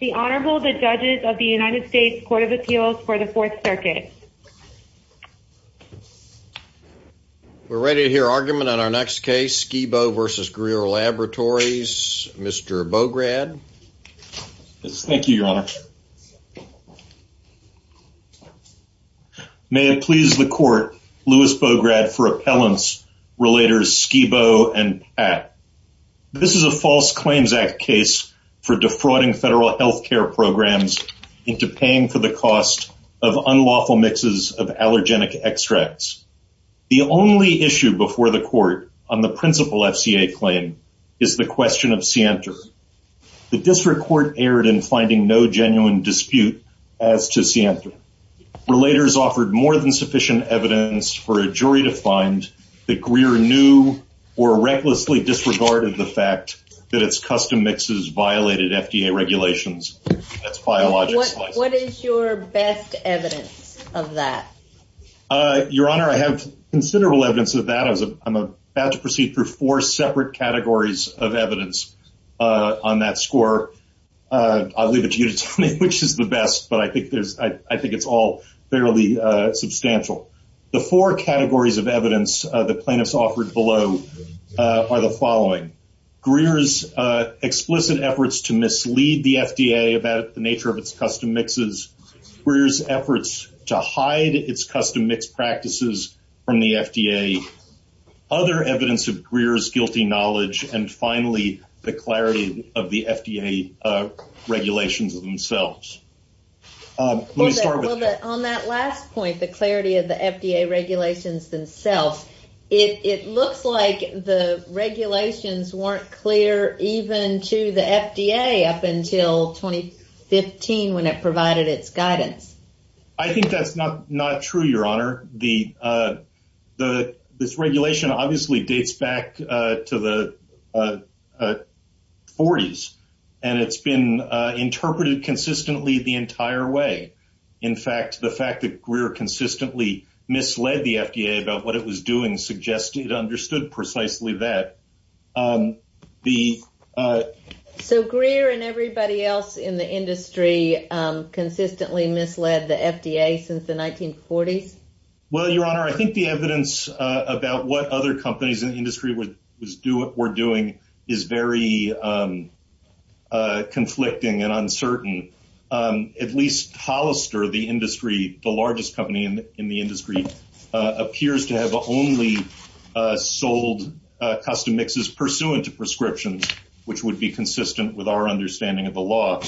The Honorable, the Judges of the United States Court of Appeals for the Fourth Circuit. We're ready to hear argument on our next case, Skibo v. Greer Laboratories. Mr. Bograd. Yes, thank you, Your Honor. May it please the Court, Louis Bograd for Appellants Relators Skibo and Pat. This is a False Claims Act case for defrauding federal health care programs into paying for the cost of unlawful mixes of allergenic extracts. The only issue before the Court on the principal FCA claim is the question of scienter. The District Court erred in finding no genuine dispute as to scienter. Relators offered more than sufficient evidence for a jury to find that Greer knew or recklessly disregarded the fact that its custom mixes violated FDA regulations. What is your best evidence of that? Your Honor, I have considerable evidence of that. I'm about to proceed through four separate categories of evidence on that score. I'll leave it to you to tell me which is the best, but I think it's all fairly substantial. The four categories of evidence the plaintiffs offered below are the following. Greer's explicit efforts to mislead the FDA about the nature of its custom mixes. Greer's efforts to hide its custom mix practices from the FDA. Other evidence of Greer's guilty knowledge. And finally, the clarity of the FDA regulations themselves. On that last point, the clarity of the FDA regulations themselves, it looks like the regulations weren't clear even to the FDA up until 2015 when it provided its guidance. I think that's not true, Your Honor. This regulation obviously dates back to the 40s, and it's been interpreted consistently the entire way. In fact, the fact that Greer consistently misled the FDA about what it was doing suggests it understood precisely that. So Greer and everybody else in the industry consistently misled the FDA since the 1940s? Well, Your Honor, I think the evidence about what other companies in the industry were doing is very conflicting and uncertain. At least Hollister, the largest company in the industry, appears to have only sold custom mixes pursuant to prescriptions, which would be consistent with our understanding of the law.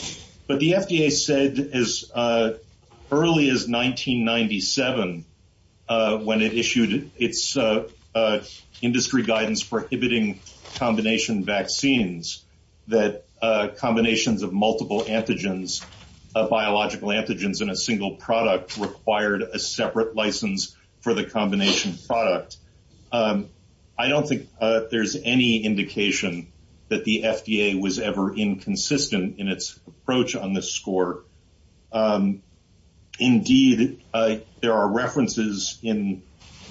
But the FDA said as early as 1997, when it issued its industry guidance prohibiting combination vaccines, that combinations of multiple antigens, biological antigens in a single product required a separate license for the combination product. I don't think there's any indication that the FDA was ever inconsistent in its approach on this score. Indeed, there are references in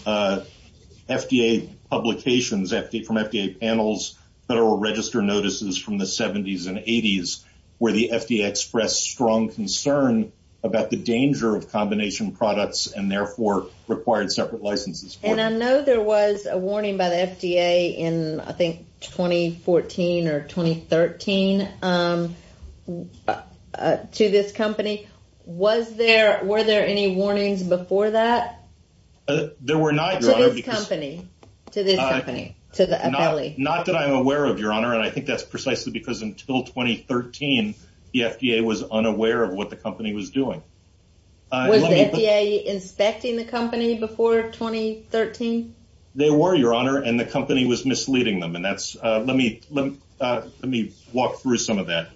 FDA publications from FDA panels, Federal Register notices from the 70s and 80s, where the FDA expressed strong concern about the danger of combination products and therefore required separate licenses. I know there was a warning by the FDA in, I think, 2014 or 2013 to this company. Were there any warnings before that? There were not, Your Honor. To this company, to the appellee? Not that I'm aware of, Your Honor, and I think that's precisely because until 2013, the FDA was unaware of what the company was doing. Was the FDA inspecting the company before 2013? They were, Your Honor, and the company was misleading them. Let me walk through some of that. Following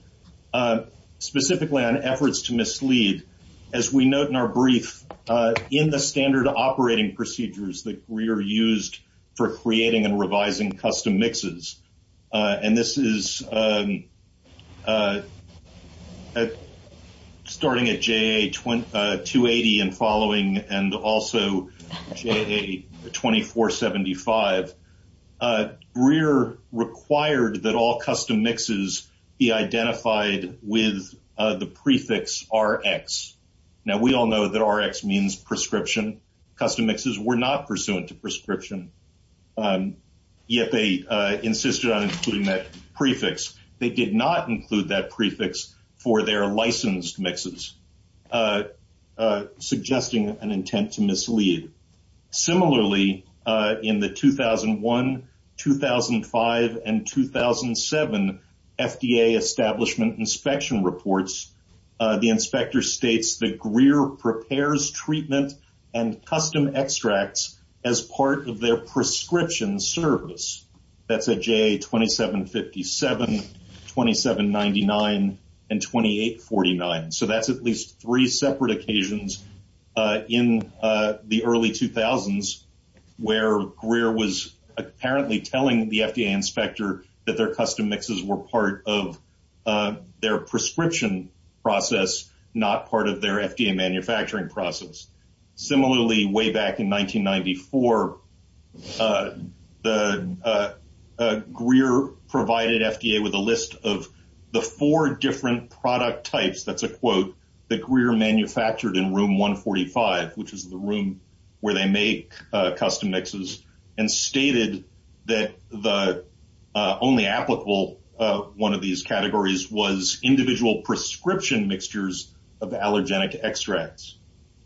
and also J.A. 2475, Breer required that all custom mixes be identified with the prefix RX. Now, we all know that RX means prescription. Custom mixes were not pursuant to prescription, yet they insisted on including that prefix. They did not include that prefix for their licensed mixes. Suggesting an intent to mislead. Similarly, in the 2001, 2005, and 2007 FDA establishment inspection reports, the inspector states that Greer prepares treatment and custom extracts as part of their prescription service. That's a J.A. 2757, 2799, and 2849. So that's at least three separate occasions in the early 2000s where Greer was apparently telling the FDA inspector that their custom mixes were part of their prescription process, not part of their FDA manufacturing process. Similarly, way back in 1994, Greer provided FDA with a list of the four different product types, that's a quote, that Greer manufactured in room 145, which is the room where they make custom mixes, and stated that the only applicable one of these categories was individual prescription mixtures of allergenic extracts.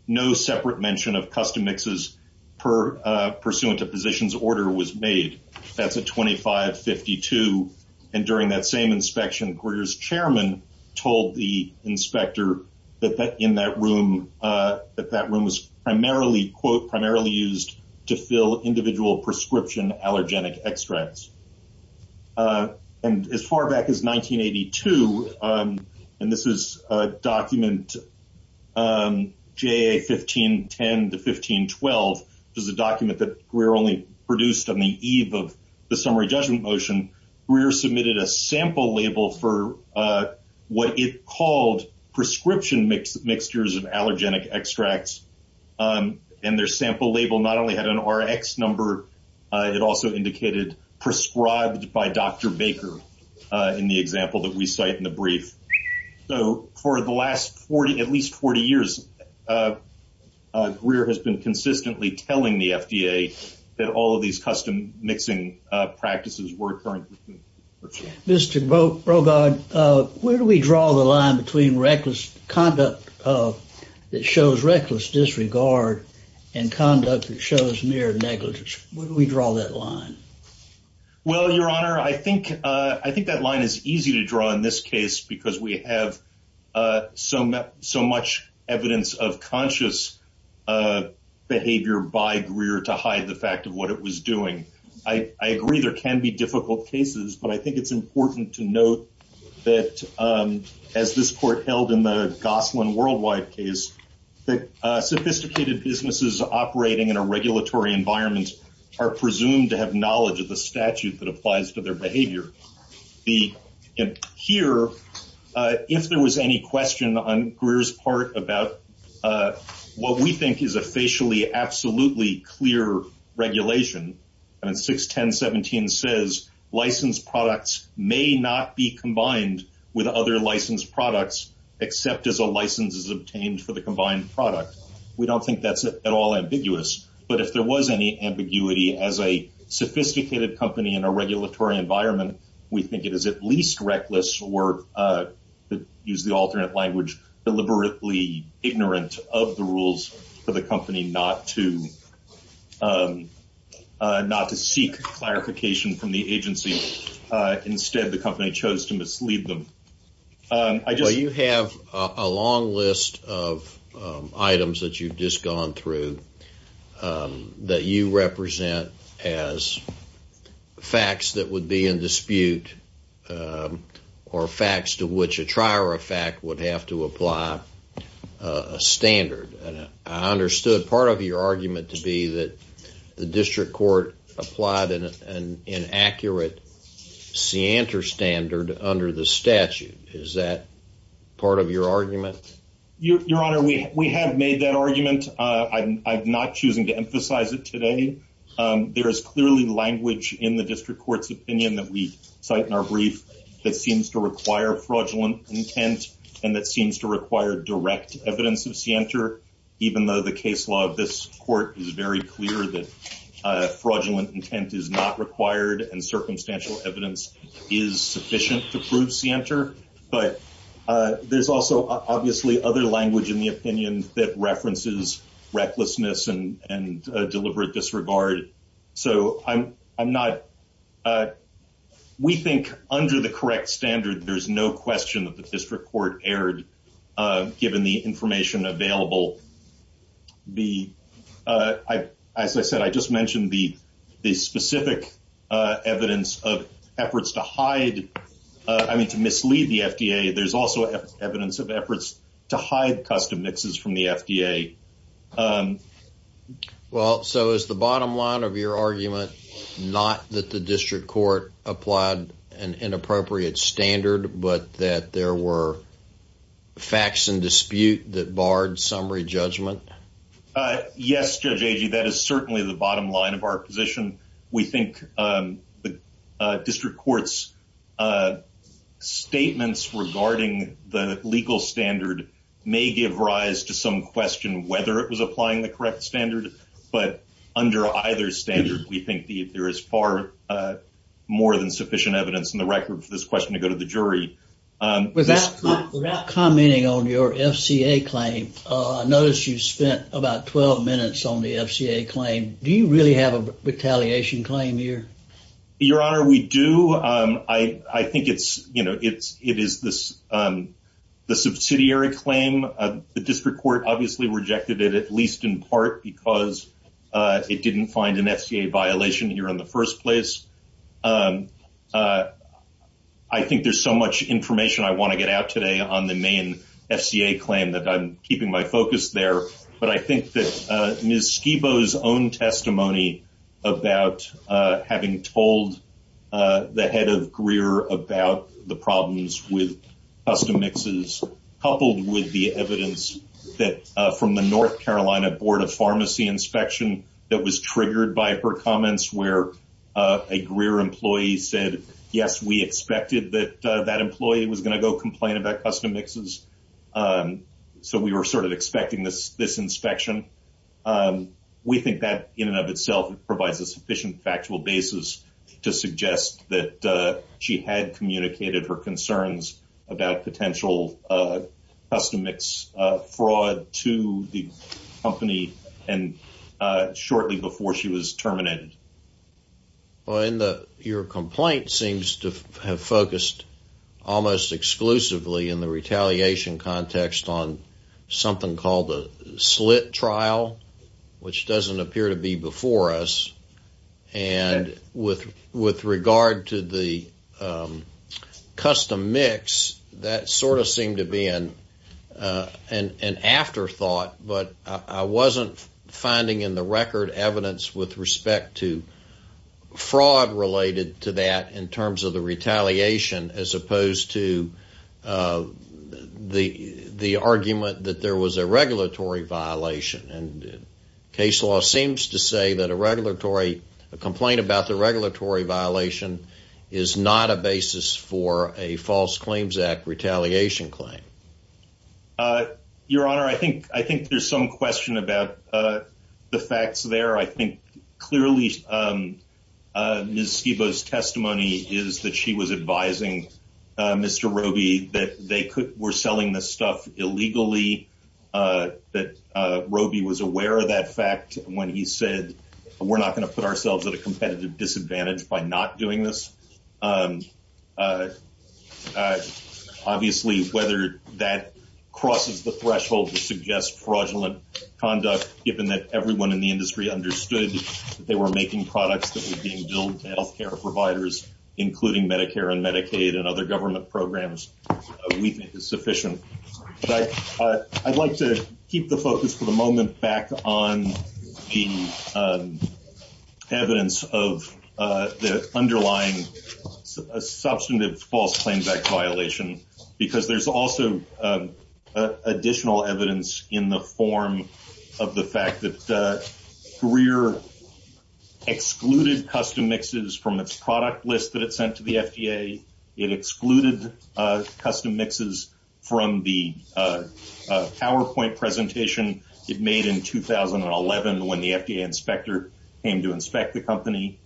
No separate mention of custom mixes pursuant to positions order was made. That's a 2552, and during that same inspection, Greer's chairman told the inspector that in that room, that that room was primarily, quote, primarily used to fill individual prescription allergenic extracts. And as far back as 1982, and this is document J.A. 1510 to 1512, which is a document that Greer only produced on the eve of the summary judgment motion, Greer submitted a sample label for what it called prescription mixtures of allergenic extracts. And their sample label not only had an RX number, it also indicated prescribed by Dr. Baker in the example that we cite in the brief. So, for the last 40, at least 40 years, Greer has been consistently telling the FDA that all of these custom mixing practices were currently. Mr. Brogan, where do we draw the line between reckless conduct that shows reckless disregard and conduct that shows mere negligence? We draw that line. Well, Your Honor, I think I think that line is easy to draw in this case because we have so much so much evidence of conscious behavior by Greer to hide the fact of what it was doing. I agree there can be difficult cases, but I think it's important to note that as this court held in the Gosselin worldwide case, that sophisticated businesses operating in a regulatory environment are presumed to have knowledge of the statute that applies to their behavior. Here, if there was any question on Greer's part about what we think is a facially absolutely clear regulation, and 610.17 says licensed products may not be combined with other licensed products, except as a license is obtained for the combined product. We don't think that's at all ambiguous, but if there was any ambiguity as a sophisticated company in a regulatory environment, we think it is at least reckless or, to use the alternate language, deliberately ignorant of the rules for the company not to seek clarification from the agency. Instead, the company chose to mislead them. Well, you have a long list of items that you've just gone through that you represent as facts that would be in dispute or facts to which a trier of fact would have to apply a standard. I understood part of your argument to be that the district court applied an inaccurate standard under the statute. Is that part of your argument? Your Honor, we have made that argument. I'm not choosing to emphasize it today. There is clearly language in the district court's opinion that we cite in our brief that seems to require fraudulent intent and that seems to require direct evidence of scienter, even though the case law of this court is very clear that fraudulent intent is not required and circumstantial evidence is sufficient to prove scienter. But there's also obviously other language in the opinion that references recklessness and deliberate disregard. So I'm not – we think under the correct standard, there's no question that the district court erred, given the information available. As I said, I just mentioned the specific evidence of efforts to hide – I mean to mislead the FDA. There's also evidence of efforts to hide custom mixes from the FDA. Well, so is the bottom line of your argument not that the district court applied an inappropriate standard but that there were facts in dispute that barred summary judgment? Yes, Judge Agee. That is certainly the bottom line of our position. We think the district court's statements regarding the legal standard may give rise to some question whether it was applying the correct standard. But under either standard, we think there is far more than sufficient evidence in the record for this question to go to the jury. Without commenting on your FCA claim, I noticed you spent about 12 minutes on the FCA claim. Do you really have a retaliation claim here? Your Honor, we do. I think it is the subsidiary claim. The district court obviously rejected it, at least in part, because it didn't find an FCA violation here in the first place. I think there's so much information I want to get out today on the main FCA claim that I'm keeping my focus there. But I think that Ms. Schiebo's own testimony about having told the head of Greer about the problems with custom mixes, coupled with the evidence from the North Carolina Board of Pharmacy Inspection that was triggered by her comments where a Greer employee said, yes, we expected that that employee was going to go complain about custom mixes, so we were sort of expecting this inspection. We think that in and of itself provides a sufficient factual basis to suggest that she had communicated her concerns about potential custom mix fraud to the company shortly before she was terminated. Your complaint seems to have focused almost exclusively in the retaliation context on something called a slit trial, which doesn't appear to be before us. With regard to the custom mix, that sort of seemed to be an afterthought, but I wasn't finding in the record evidence with respect to fraud related to that in terms of the retaliation, as opposed to the argument that there was a regulatory violation. Case law seems to say that a complaint about the regulatory violation is not a basis for a false claims act retaliation claim. Your Honor, I think I think there's some question about the facts there. I think clearly Ms. Schiebo's testimony is that she was advising Mr. Roby that they were selling this stuff illegally, that Roby was aware of that fact when he said, we're not going to put ourselves at a competitive disadvantage by not doing this. Obviously, whether that crosses the threshold to suggest fraudulent conduct, given that everyone in the industry understood that they were making products that were being billed to health care providers, including Medicare and Medicaid and other government programs, we think is sufficient. I'd like to keep the focus for the moment back on the evidence of the underlying substantive false claims act violation, because there's also additional evidence in the form of the fact that Greer excluded custom mixes from its product list that it sent to the FDA. It excluded custom mixes from the PowerPoint presentation it made in 2011 when the FDA inspector came to inspect the company.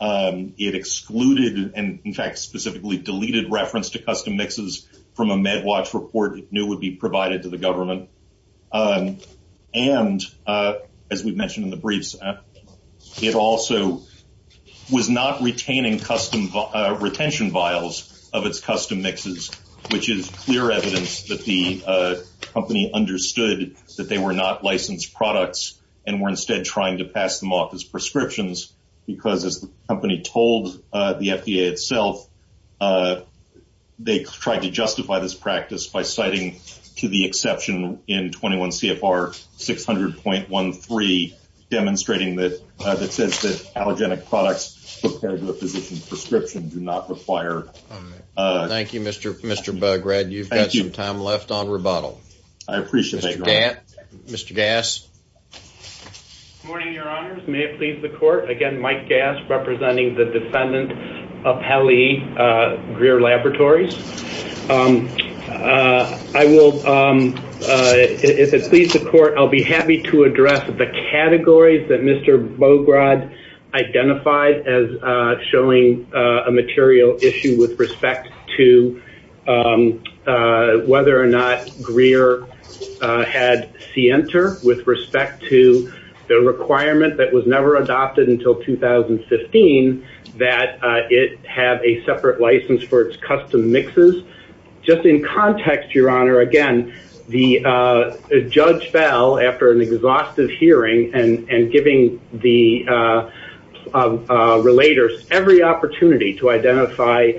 It excluded and in fact specifically deleted reference to custom mixes from a MedWatch report it knew would be provided to the government. And as we mentioned in the briefs, it also was not retaining retention vials of its custom mixes, which is clear evidence that the company understood that they were not licensed products and were instead trying to pass them off as prescriptions. Because as the company told the FDA itself, they tried to justify this practice by citing to the exception in 21 CFR 600.13, demonstrating that it says that allergenic products prepared to a physician's prescription do not require. Thank you, Mr. Bograd. You've got some time left on rebuttal. I appreciate it. Mr. Gass. Good morning, Your Honors. May it please the court. Again, Mike Gass, representing the defendant of Hallie Greer Laboratories. I will, if it pleases the court, I'll be happy to address the categories that Mr. Bograd identified as showing a material issue with respect to whether or not Greer had Sienter with respect to the requirement that was never adopted until 2015 that it have a separate license for its custom mixes. Just in context, Your Honor, again, Judge Bell, after an exhaustive hearing and giving the relators every opportunity to identify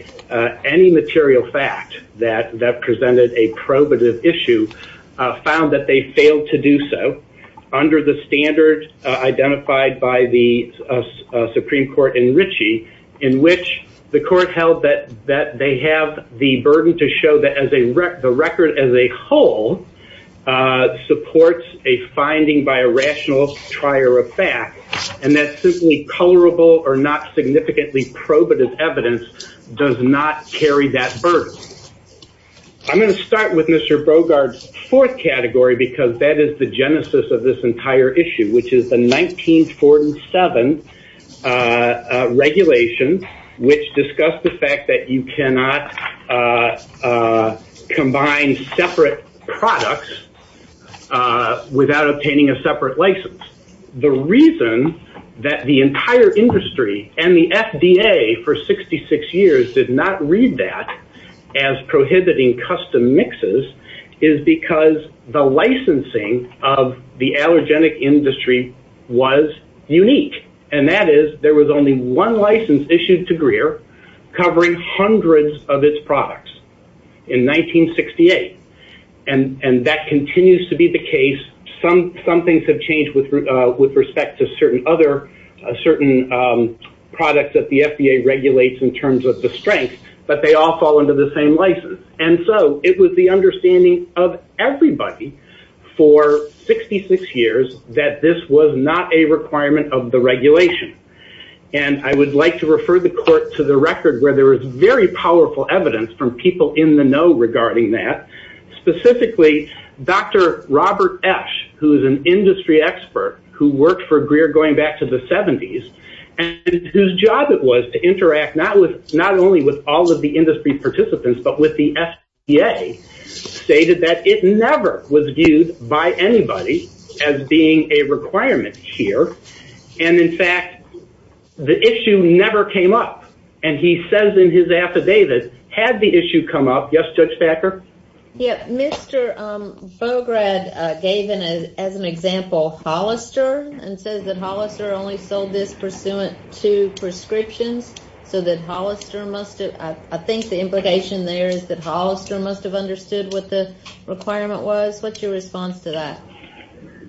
any material fact that presented a probative issue, found that they failed to do so under the standard identified by the Supreme Court in Ritchie, in which the court held that they have the burden to show that the record as a whole supports a finding by a rational trier of fact, and that simply colorable or not significantly probative evidence does not carry that burden. I'm going to start with Mr. Bograd's fourth category, because that is the genesis of this entire issue, which is the 1947 regulation, which discussed the fact that you cannot combine separate products without obtaining a separate license. The reason that the entire industry and the FDA for 66 years did not read that as prohibiting custom mixes is because the licensing of the allergenic industry was unique, and that is there was only one license issued to Greer covering hundreds of its products in 1968. And that continues to be the case. Some things have changed with respect to certain products that the FDA regulates in terms of the strength, but they all fall under the same license. And so it was the understanding of everybody for 66 years that this was not a requirement of the regulation, and I would like to refer the court to the record where there was very powerful evidence from people in the know regarding that. Specifically, Dr. Robert Esch, who is an industry expert who worked for Greer going back to the 70s, and whose job it was to interact not only with all of the industry participants, but with the FDA, stated that it never was viewed by anybody as being a requirement here, and in fact, the issue never came up. And he says in his affidavit, had the issue come up, yes, Judge Thacker? Mr. Bograd gave, as an example, Hollister, and says that Hollister only sold this pursuant to prescriptions, so that Hollister must have, I think the implication there is that Hollister must have understood what the requirement was. What's your response to that?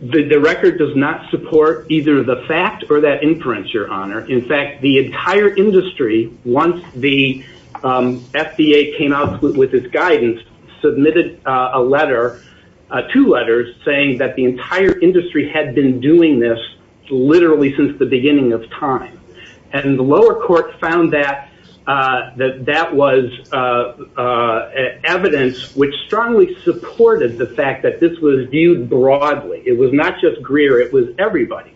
The record does not support either the fact or that inference, Your Honor. In fact, the entire industry, once the FDA came out with its guidance, submitted a letter, two letters, saying that the entire industry had been doing this literally since the beginning of time. And the lower court found that that was evidence which strongly supported the fact that this was viewed broadly. It was not just Greer, it was everybody.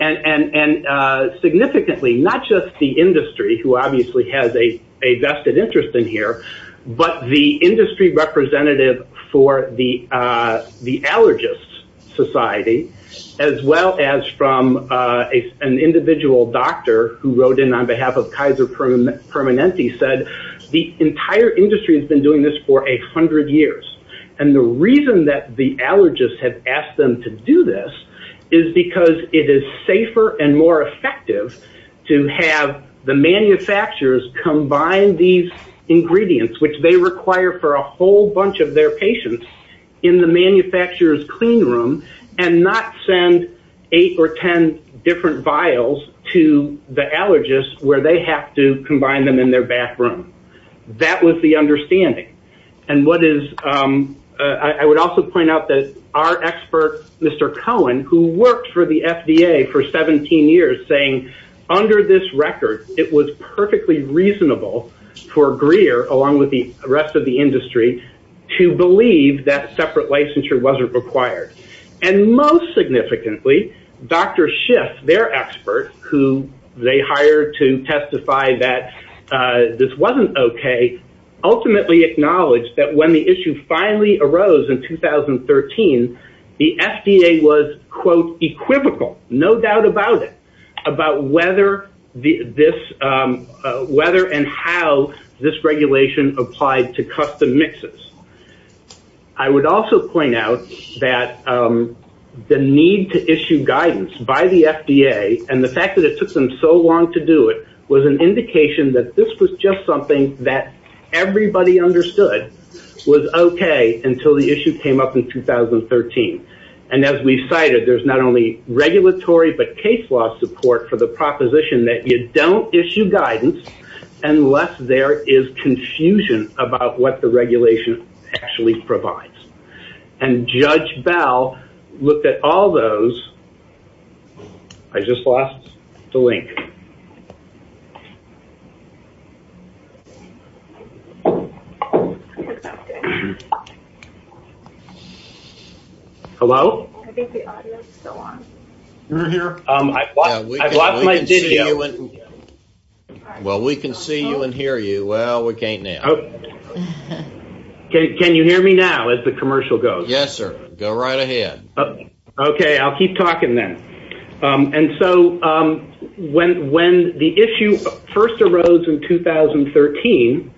And significantly, not just the industry, who obviously has a vested interest in here, but the industry representative for the allergist society, as well as from an individual doctor who wrote in on behalf of Kaiser Permanente, said the entire industry has been doing this for 100 years. And the reason that the allergist had asked them to do this is because it is safer and more effective to have the manufacturers combine these ingredients, which they require for a whole bunch of their patients, in the manufacturer's clean room, and not send eight or ten different vials to the allergist where they have to combine them in their bathroom. That was the understanding. I would also point out that our expert, Mr. Cohen, who worked for the FDA for 17 years, saying under this record, it was perfectly reasonable for Greer, along with the rest of the industry, to believe that separate licensure wasn't required. And most significantly, Dr. Schiff, their expert, who they hired to testify that this wasn't okay, ultimately acknowledged that when the issue finally arose in 2013, the FDA was, quote, equivocal, no doubt about it, about whether and how this regulation applied to custom mixes. I would also point out that the need to issue guidance by the FDA, and the fact that it took them so long to do it, was an indication that this was just something that everybody understood was okay until the issue came up in 2013. And as we cited, there's not only regulatory, but case law support for the proposition that you don't issue guidance unless there is confusion about what the regulation actually provides. And Judge Bell looked at all those. I just lost the link. Hello? I think the audio is still on. I lost my video. Well, we can see you and hear you. Well, we can't now. Can you hear me now as the commercial goes? Yes, sir. Go right ahead. Okay. I'll keep talking then. And so when the issue first arose in 2013,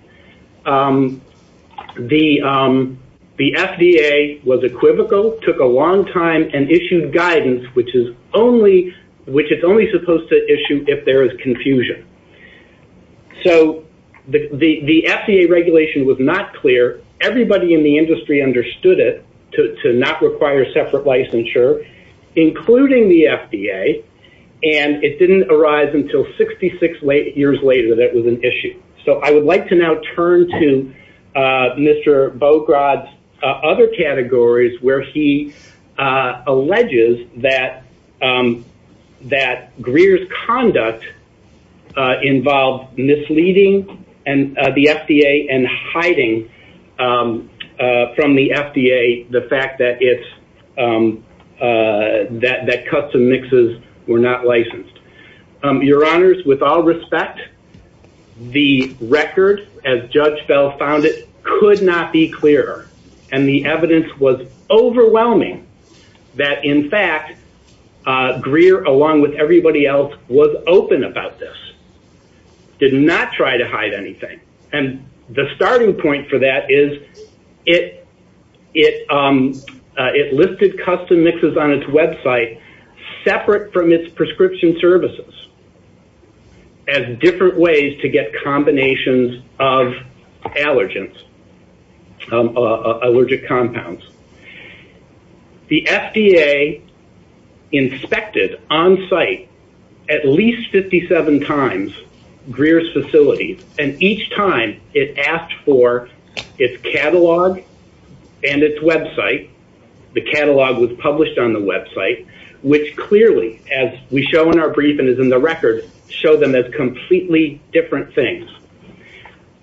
the FDA was equivocal, took a long time, and issued guidance, which it's only supposed to issue if there is confusion. So the FDA regulation was not clear. Everybody in the industry understood it, to not require separate licensure, including the FDA, and it didn't arise until 66 years later that it was an issue. So I would like to now turn to Mr. Bogrod's other categories where he alleges that Greer's conduct involved misleading the FDA and hiding from the FDA the fact that custom mixes were not licensed. Your Honors, with all respect, the record, as Judge Bell found it, could not be clearer. And the evidence was overwhelming that, in fact, Greer, along with everybody else, was open about this, did not try to hide anything. And the starting point for that is it listed custom mixes on its website separate from its prescription services as different ways to get combinations of allergens, allergic compounds. The FDA inspected on-site at least 57 times Greer's facilities, and each time it asked for its catalog and its website. The catalog was published on the website, which clearly, as we show in our brief and is in the record, show them as completely different things.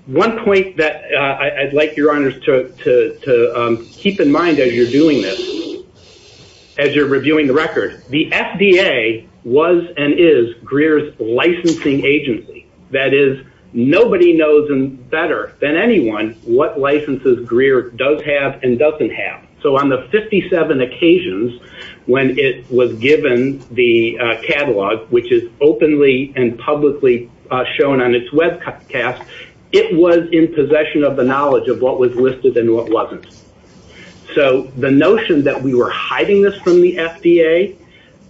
One point that I'd like your Honors to keep in mind as you're doing this, as you're reviewing the record, the FDA was and is Greer's licensing agency. That is, nobody knows better than anyone what licenses Greer does have and doesn't have. So on the 57 occasions when it was given the catalog, which is openly and publicly shown on its webcast, it was in possession of the knowledge of what was listed and what wasn't. So the notion that we were hiding this from the FDA,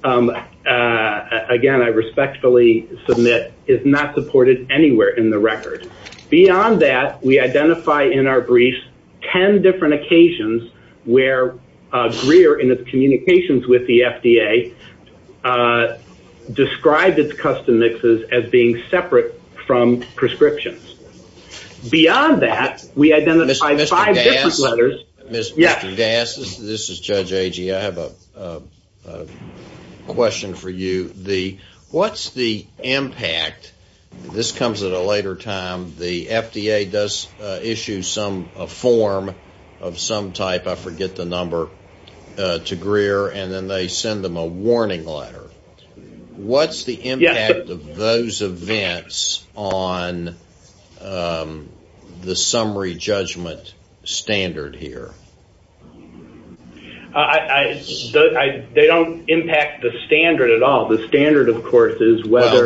again, I respectfully submit, is not supported anywhere in the record. Beyond that, we identify in our briefs 10 different occasions where Greer, in its communications with the FDA, described its custom mixes as being separate from prescriptions. Beyond that, we identified five different letters. Mr. Das, this is Judge Agee. I have a question for you. What's the impact, this comes at a later time, the FDA does issue a form of some type, I forget the number, to Greer, and then they send them a warning letter. What's the impact of those events on the summary judgment standard here? They don't impact the standard at all. Well, the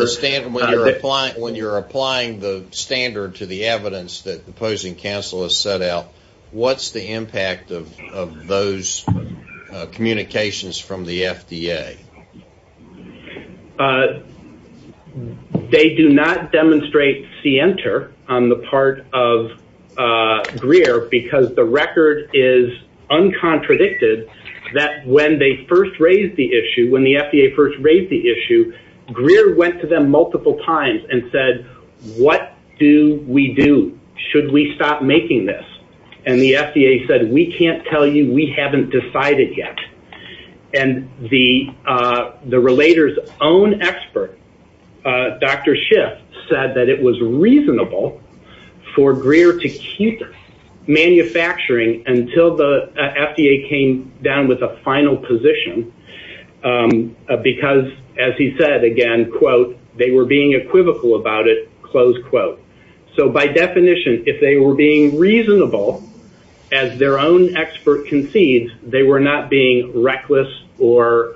standard, when you're applying the standard to the evidence that the opposing counsel has set out, what's the impact of those communications from the FDA? They do not demonstrate scienter on the part of Greer, because the record is uncontradicted that when they first raised the issue, when the FDA first raised the issue, Greer went to them multiple times and said, what do we do? Should we stop making this? And the FDA said, we can't tell you. We haven't decided yet. And the relator's own expert, Dr. Schiff, said that it was reasonable for Greer to keep manufacturing until the FDA came down with a final position, because, as he said again, quote, they were being equivocal about it, close quote. So by definition, if they were being reasonable, as their own expert concedes, they were not being reckless or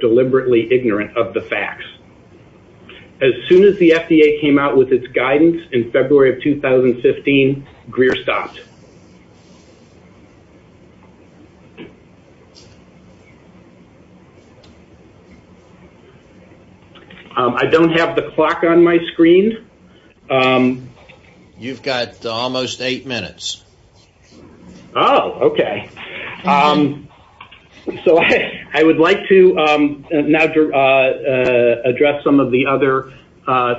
deliberately ignorant of the facts. As soon as the FDA came out with its guidance in February of 2015, Greer stopped. I don't have the clock on my screen. You've got almost eight minutes. Oh, okay. So I would like to now address some of the other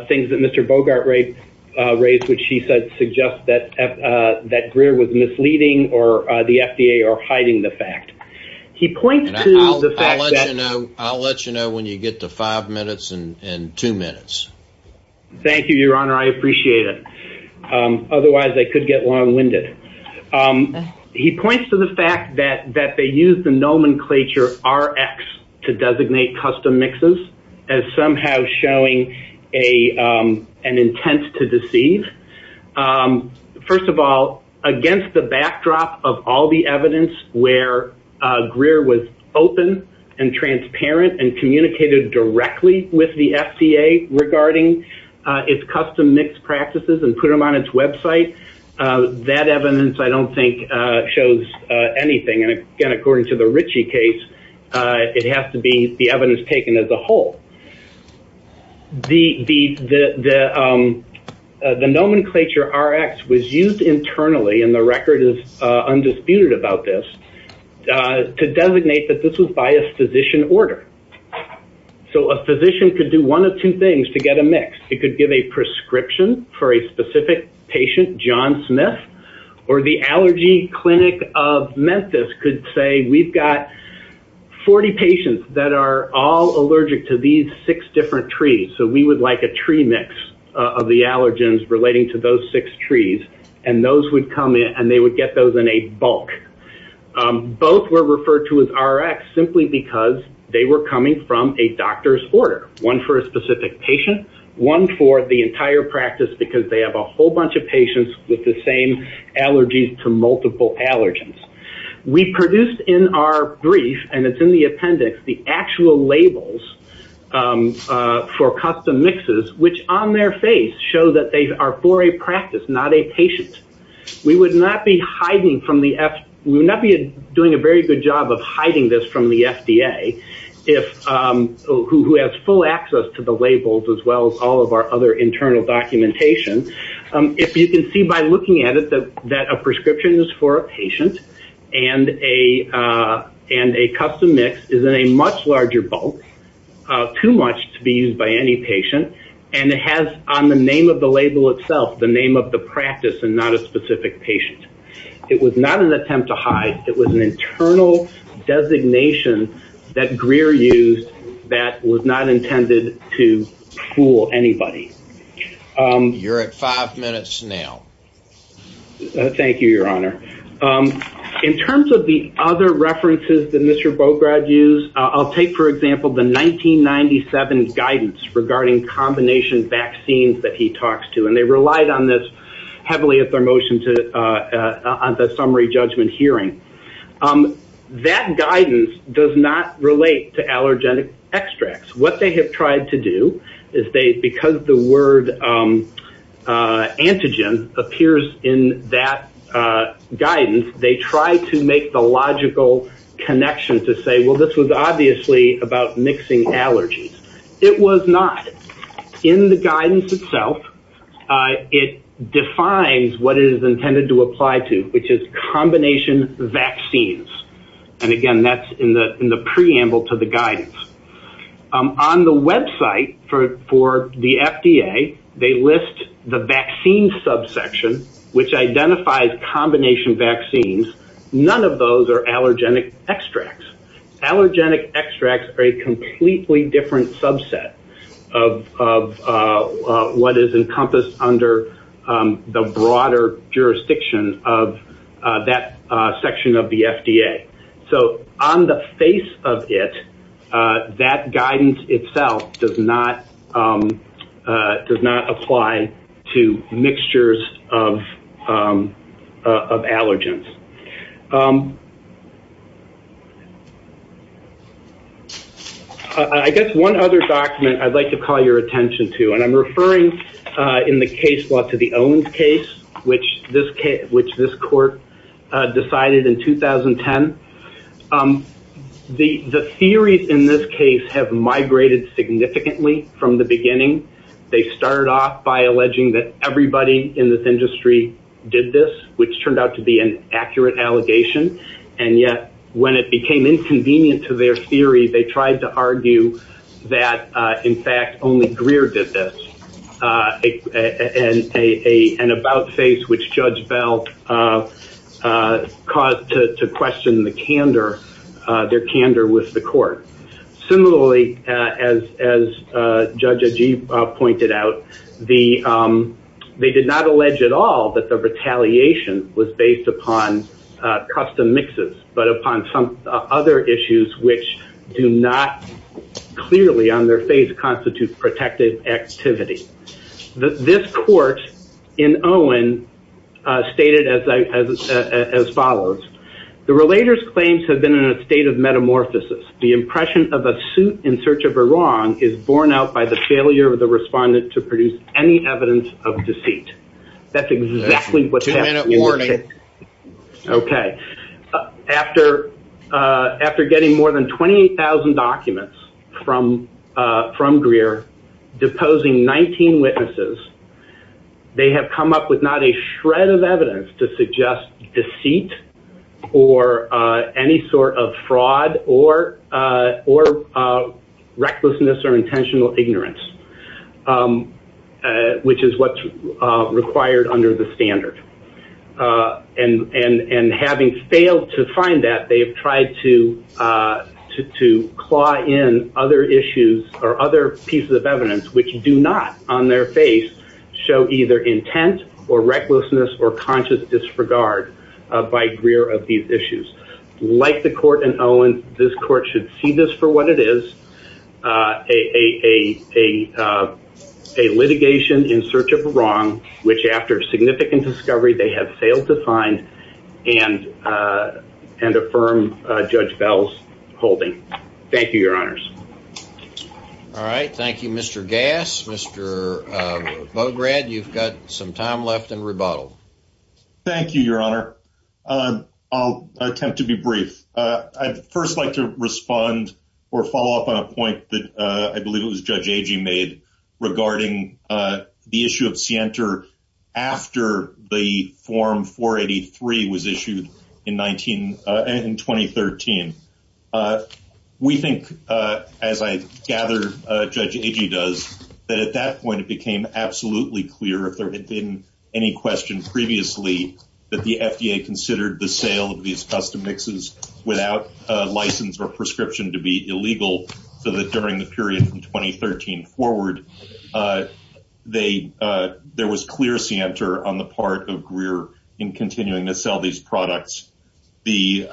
things that Mr. Bogart raised, which he said suggests that Greer was misleading or the FDA or hiding the fact. I'll let you know when you get to five minutes and two minutes. Thank you, Your Honor. I appreciate it. Otherwise, I could get long-winded. He points to the fact that they used the nomenclature RX to designate custom mixes as somehow showing an intent to deceive. First of all, against the backdrop of all the evidence where Greer was open and transparent and communicated directly with the FDA regarding its custom mix practices and put them on its website, that evidence, I don't think, shows anything. And, again, according to the Ritchie case, it has to be the evidence taken as a whole. The nomenclature RX was used internally, and the record is undisputed about this, to designate that this was by a physician order. So a physician could do one of two things to get a mix. It could give a prescription for a specific patient, John Smith, or the allergy clinic of Memphis could say, we've got 40 patients that are all allergic to these six different trees, so we would like a tree mix of the allergens relating to those six trees. And those would come in, and they would get those in a bulk. Both were referred to as RX simply because they were coming from a doctor's order, one for a specific patient, one for the entire practice because they have a whole bunch of patients with the same allergies to multiple allergens. We produced in our brief, and it's in the appendix, the actual labels for custom mixes, which on their face show that they are for a practice, not a patient. We would not be doing a very good job of hiding this from the FDA, who has full access to the labels as well as all of our other internal documentation. If you can see by looking at it that a prescription is for a patient, and a custom mix is in a much larger bulk, too much to be used by any patient, and it has on the name of the label itself the name of the practice and not a specific patient. It was not an attempt to hide. It was an internal designation that Greer used that was not intended to fool anybody. You're at five minutes now. Thank you, Your Honor. In terms of the other references that Mr. Bograd used, I'll take, for example, the 1997 guidance regarding combination vaccines that he talks to, and they relied on this heavily at their motion on the summary judgment hearing. That guidance does not relate to allergenic extracts. What they have tried to do is they, because the word antigen appears in that guidance, they try to make the logical connection to say, well, this was obviously about mixing allergies. It was not. In the guidance itself, it defines what it is intended to apply to, which is combination vaccines. And, again, that's in the preamble to the guidance. On the website for the FDA, they list the vaccine subsection, which identifies combination vaccines. None of those are allergenic extracts. Allergenic extracts are a completely different subset of what is encompassed under the broader jurisdiction of that section of the FDA. So on the face of it, that guidance itself does not apply to mixtures of allergens. I guess one other document I'd like to call your attention to, and I'm referring in the case law to the Owens case, which this court decided in 2010. The theories in this case have migrated significantly from the beginning. They started off by alleging that everybody in this industry did this, which turned out to be an accurate allegation. And yet when it became inconvenient to their theory, they tried to argue that, in fact, only Greer did this, an about-face which Judge Bell caused to question the candor, their candor with the court. Similarly, as Judge Ajeeb pointed out, they did not allege at all that the retaliation was based upon custom mixes, but upon some other issues which do not clearly on their face constitute protective activity. This court in Owen stated as follows. The relator's claims have been in a state of metamorphosis. The impression of a suit in search of a wrong is borne out by the failure of the respondent to produce any evidence of deceit. Two-minute warning. Okay. After getting more than 20,000 documents from Greer, deposing 19 witnesses, they have come up with not a shred of evidence to suggest deceit or any sort of fraud or recklessness or intentional ignorance, which is what's required under the standard. And having failed to find that, they have tried to claw in other issues or other pieces of evidence which do not on their face show either intent or recklessness or conscious disregard by Greer of these issues. Like the court in Owen, this court should see this for what it is, a litigation in search of a wrong, which after significant discovery, they have failed to find and and affirm Judge Bell's holding. Thank you, Your Honors. All right. Thank you, Mr. Gas. Mr. Bograd, you've got some time left and rebuttal. Thank you, Your Honor. I'll attempt to be brief. I'd first like to respond or follow up on a point that I believe it was Judge Agee made regarding the issue of Sienter after the form 483 was issued in 19 in 2013. We think, as I gather Judge Agee does, that at that point it became absolutely clear if there had been any question previously that the FDA considered the sale of these custom mixes without license or prescription to be illegal. So that during the period from 2013 forward, they there was clear Sienter on the part of Greer in continuing to sell these products. The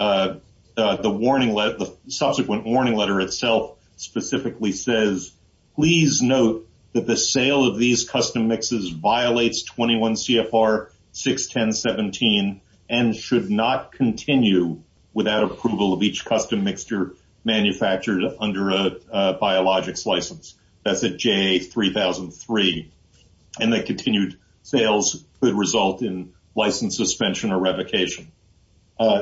warning, the subsequent warning letter itself specifically says, please note that the sale of these custom mixes violates 21 CFR 6, 10, 17 and should not continue without approval of each custom mixture manufactured under a biologics license. That's a J 3003. And that continued sales could result in license suspension or revocation.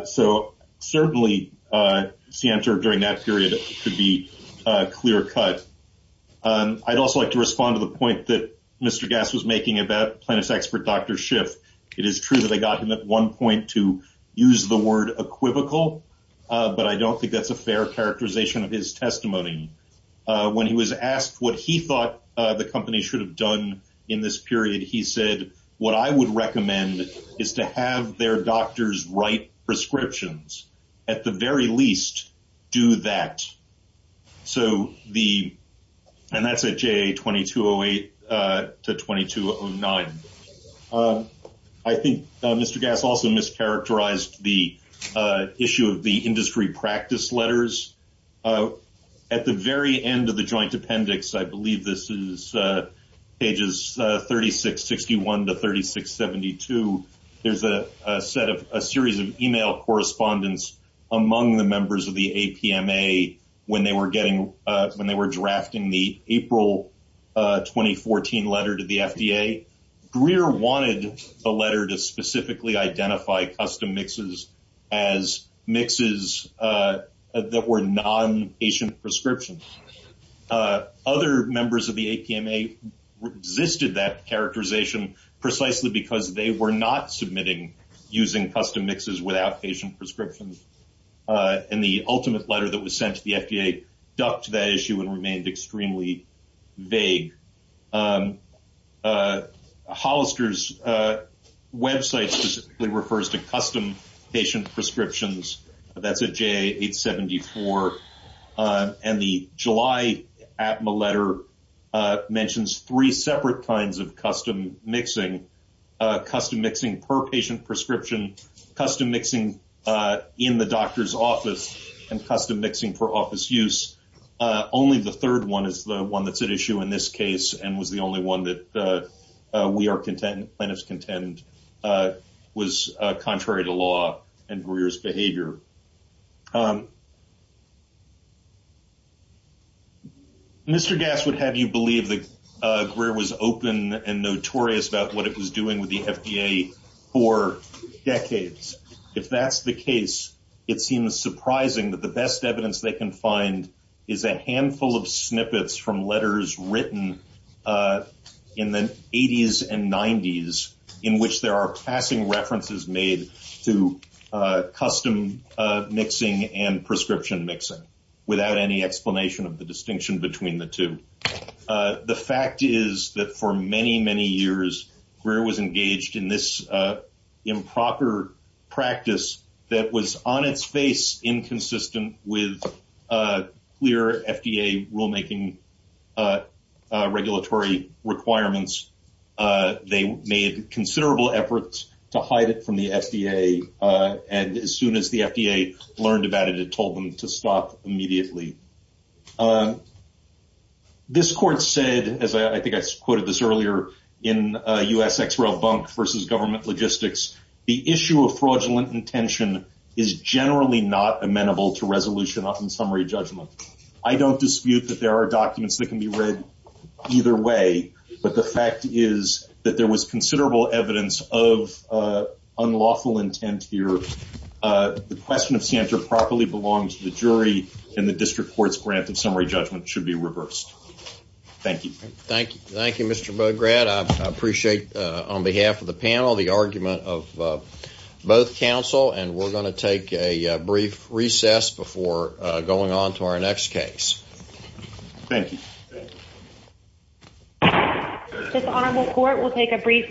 So certainly Sienter during that period could be clear cut. I'd also like to respond to the point that Mr. Gass was making about plaintiff's expert Dr. Schiff. It is true that they got him at one point to use the word equivocal, but I don't think that's a fair characterization of his testimony. When he was asked what he thought the company should have done in this period, he said, what I would recommend is to have their doctors write prescriptions at the very least do that. So the and that's a J 2208 to 2209. I think Mr. Gass also mischaracterized the issue of the industry practice letters at the very end of the joint appendix. I believe this is pages 3661 to 3672. There's a set of a series of email correspondence among the members of the APMA when they were getting when they were drafting the April 2014 letter to the FDA. Greer wanted a letter to specifically identify custom mixes as mixes that were non patient prescriptions. Other members of the APMA existed that characterization precisely because they were not submitting using custom mixes without patient prescriptions. And the ultimate letter that was sent to the FDA ducked that issue and remained extremely vague. Hollister's website specifically refers to custom patient prescriptions. That's a J 874 and the July APMA letter mentions three separate kinds of custom mixing, custom mixing per patient prescription, custom mixing in the doctor's office and custom mixing for office use. Only the third one is the one that's at issue in this case and was the only one that we are content. Plaintiffs contend was contrary to law and Greer's behavior. Mr. Gass would have you believe that Greer was open and notorious about what it was doing with the FDA for decades. If that's the case, it seems surprising that the best evidence they can find is a handful of snippets from letters written in the 80s and 90s in which there are passing references made to custom mixing and prescription mixing without any explanation of the distinction between the two. The fact is that for many, many years, Greer was engaged in this improper practice that was on its face inconsistent with clear FDA rulemaking regulatory requirements. They made considerable efforts to hide it from the FDA and as soon as the FDA learned about it, it told them to stop immediately. This court said, as I think I quoted this earlier, in U.S. ex-rel bunk versus government logistics, the issue of fraudulent intention is generally not amenable to resolution in summary judgment. I don't dispute that there are documents that can be read either way, but the fact is that there was considerable evidence of unlawful intent here. The question of Santa properly belongs to the jury and the district court's grant of summary judgment should be reversed. Thank you. Thank you. Thank you, Mr. Bograd. I appreciate, on behalf of the panel, the argument of both counsel and we're going to take a brief recess before going on to our next case. Thank you. This honorable court will take a brief recess.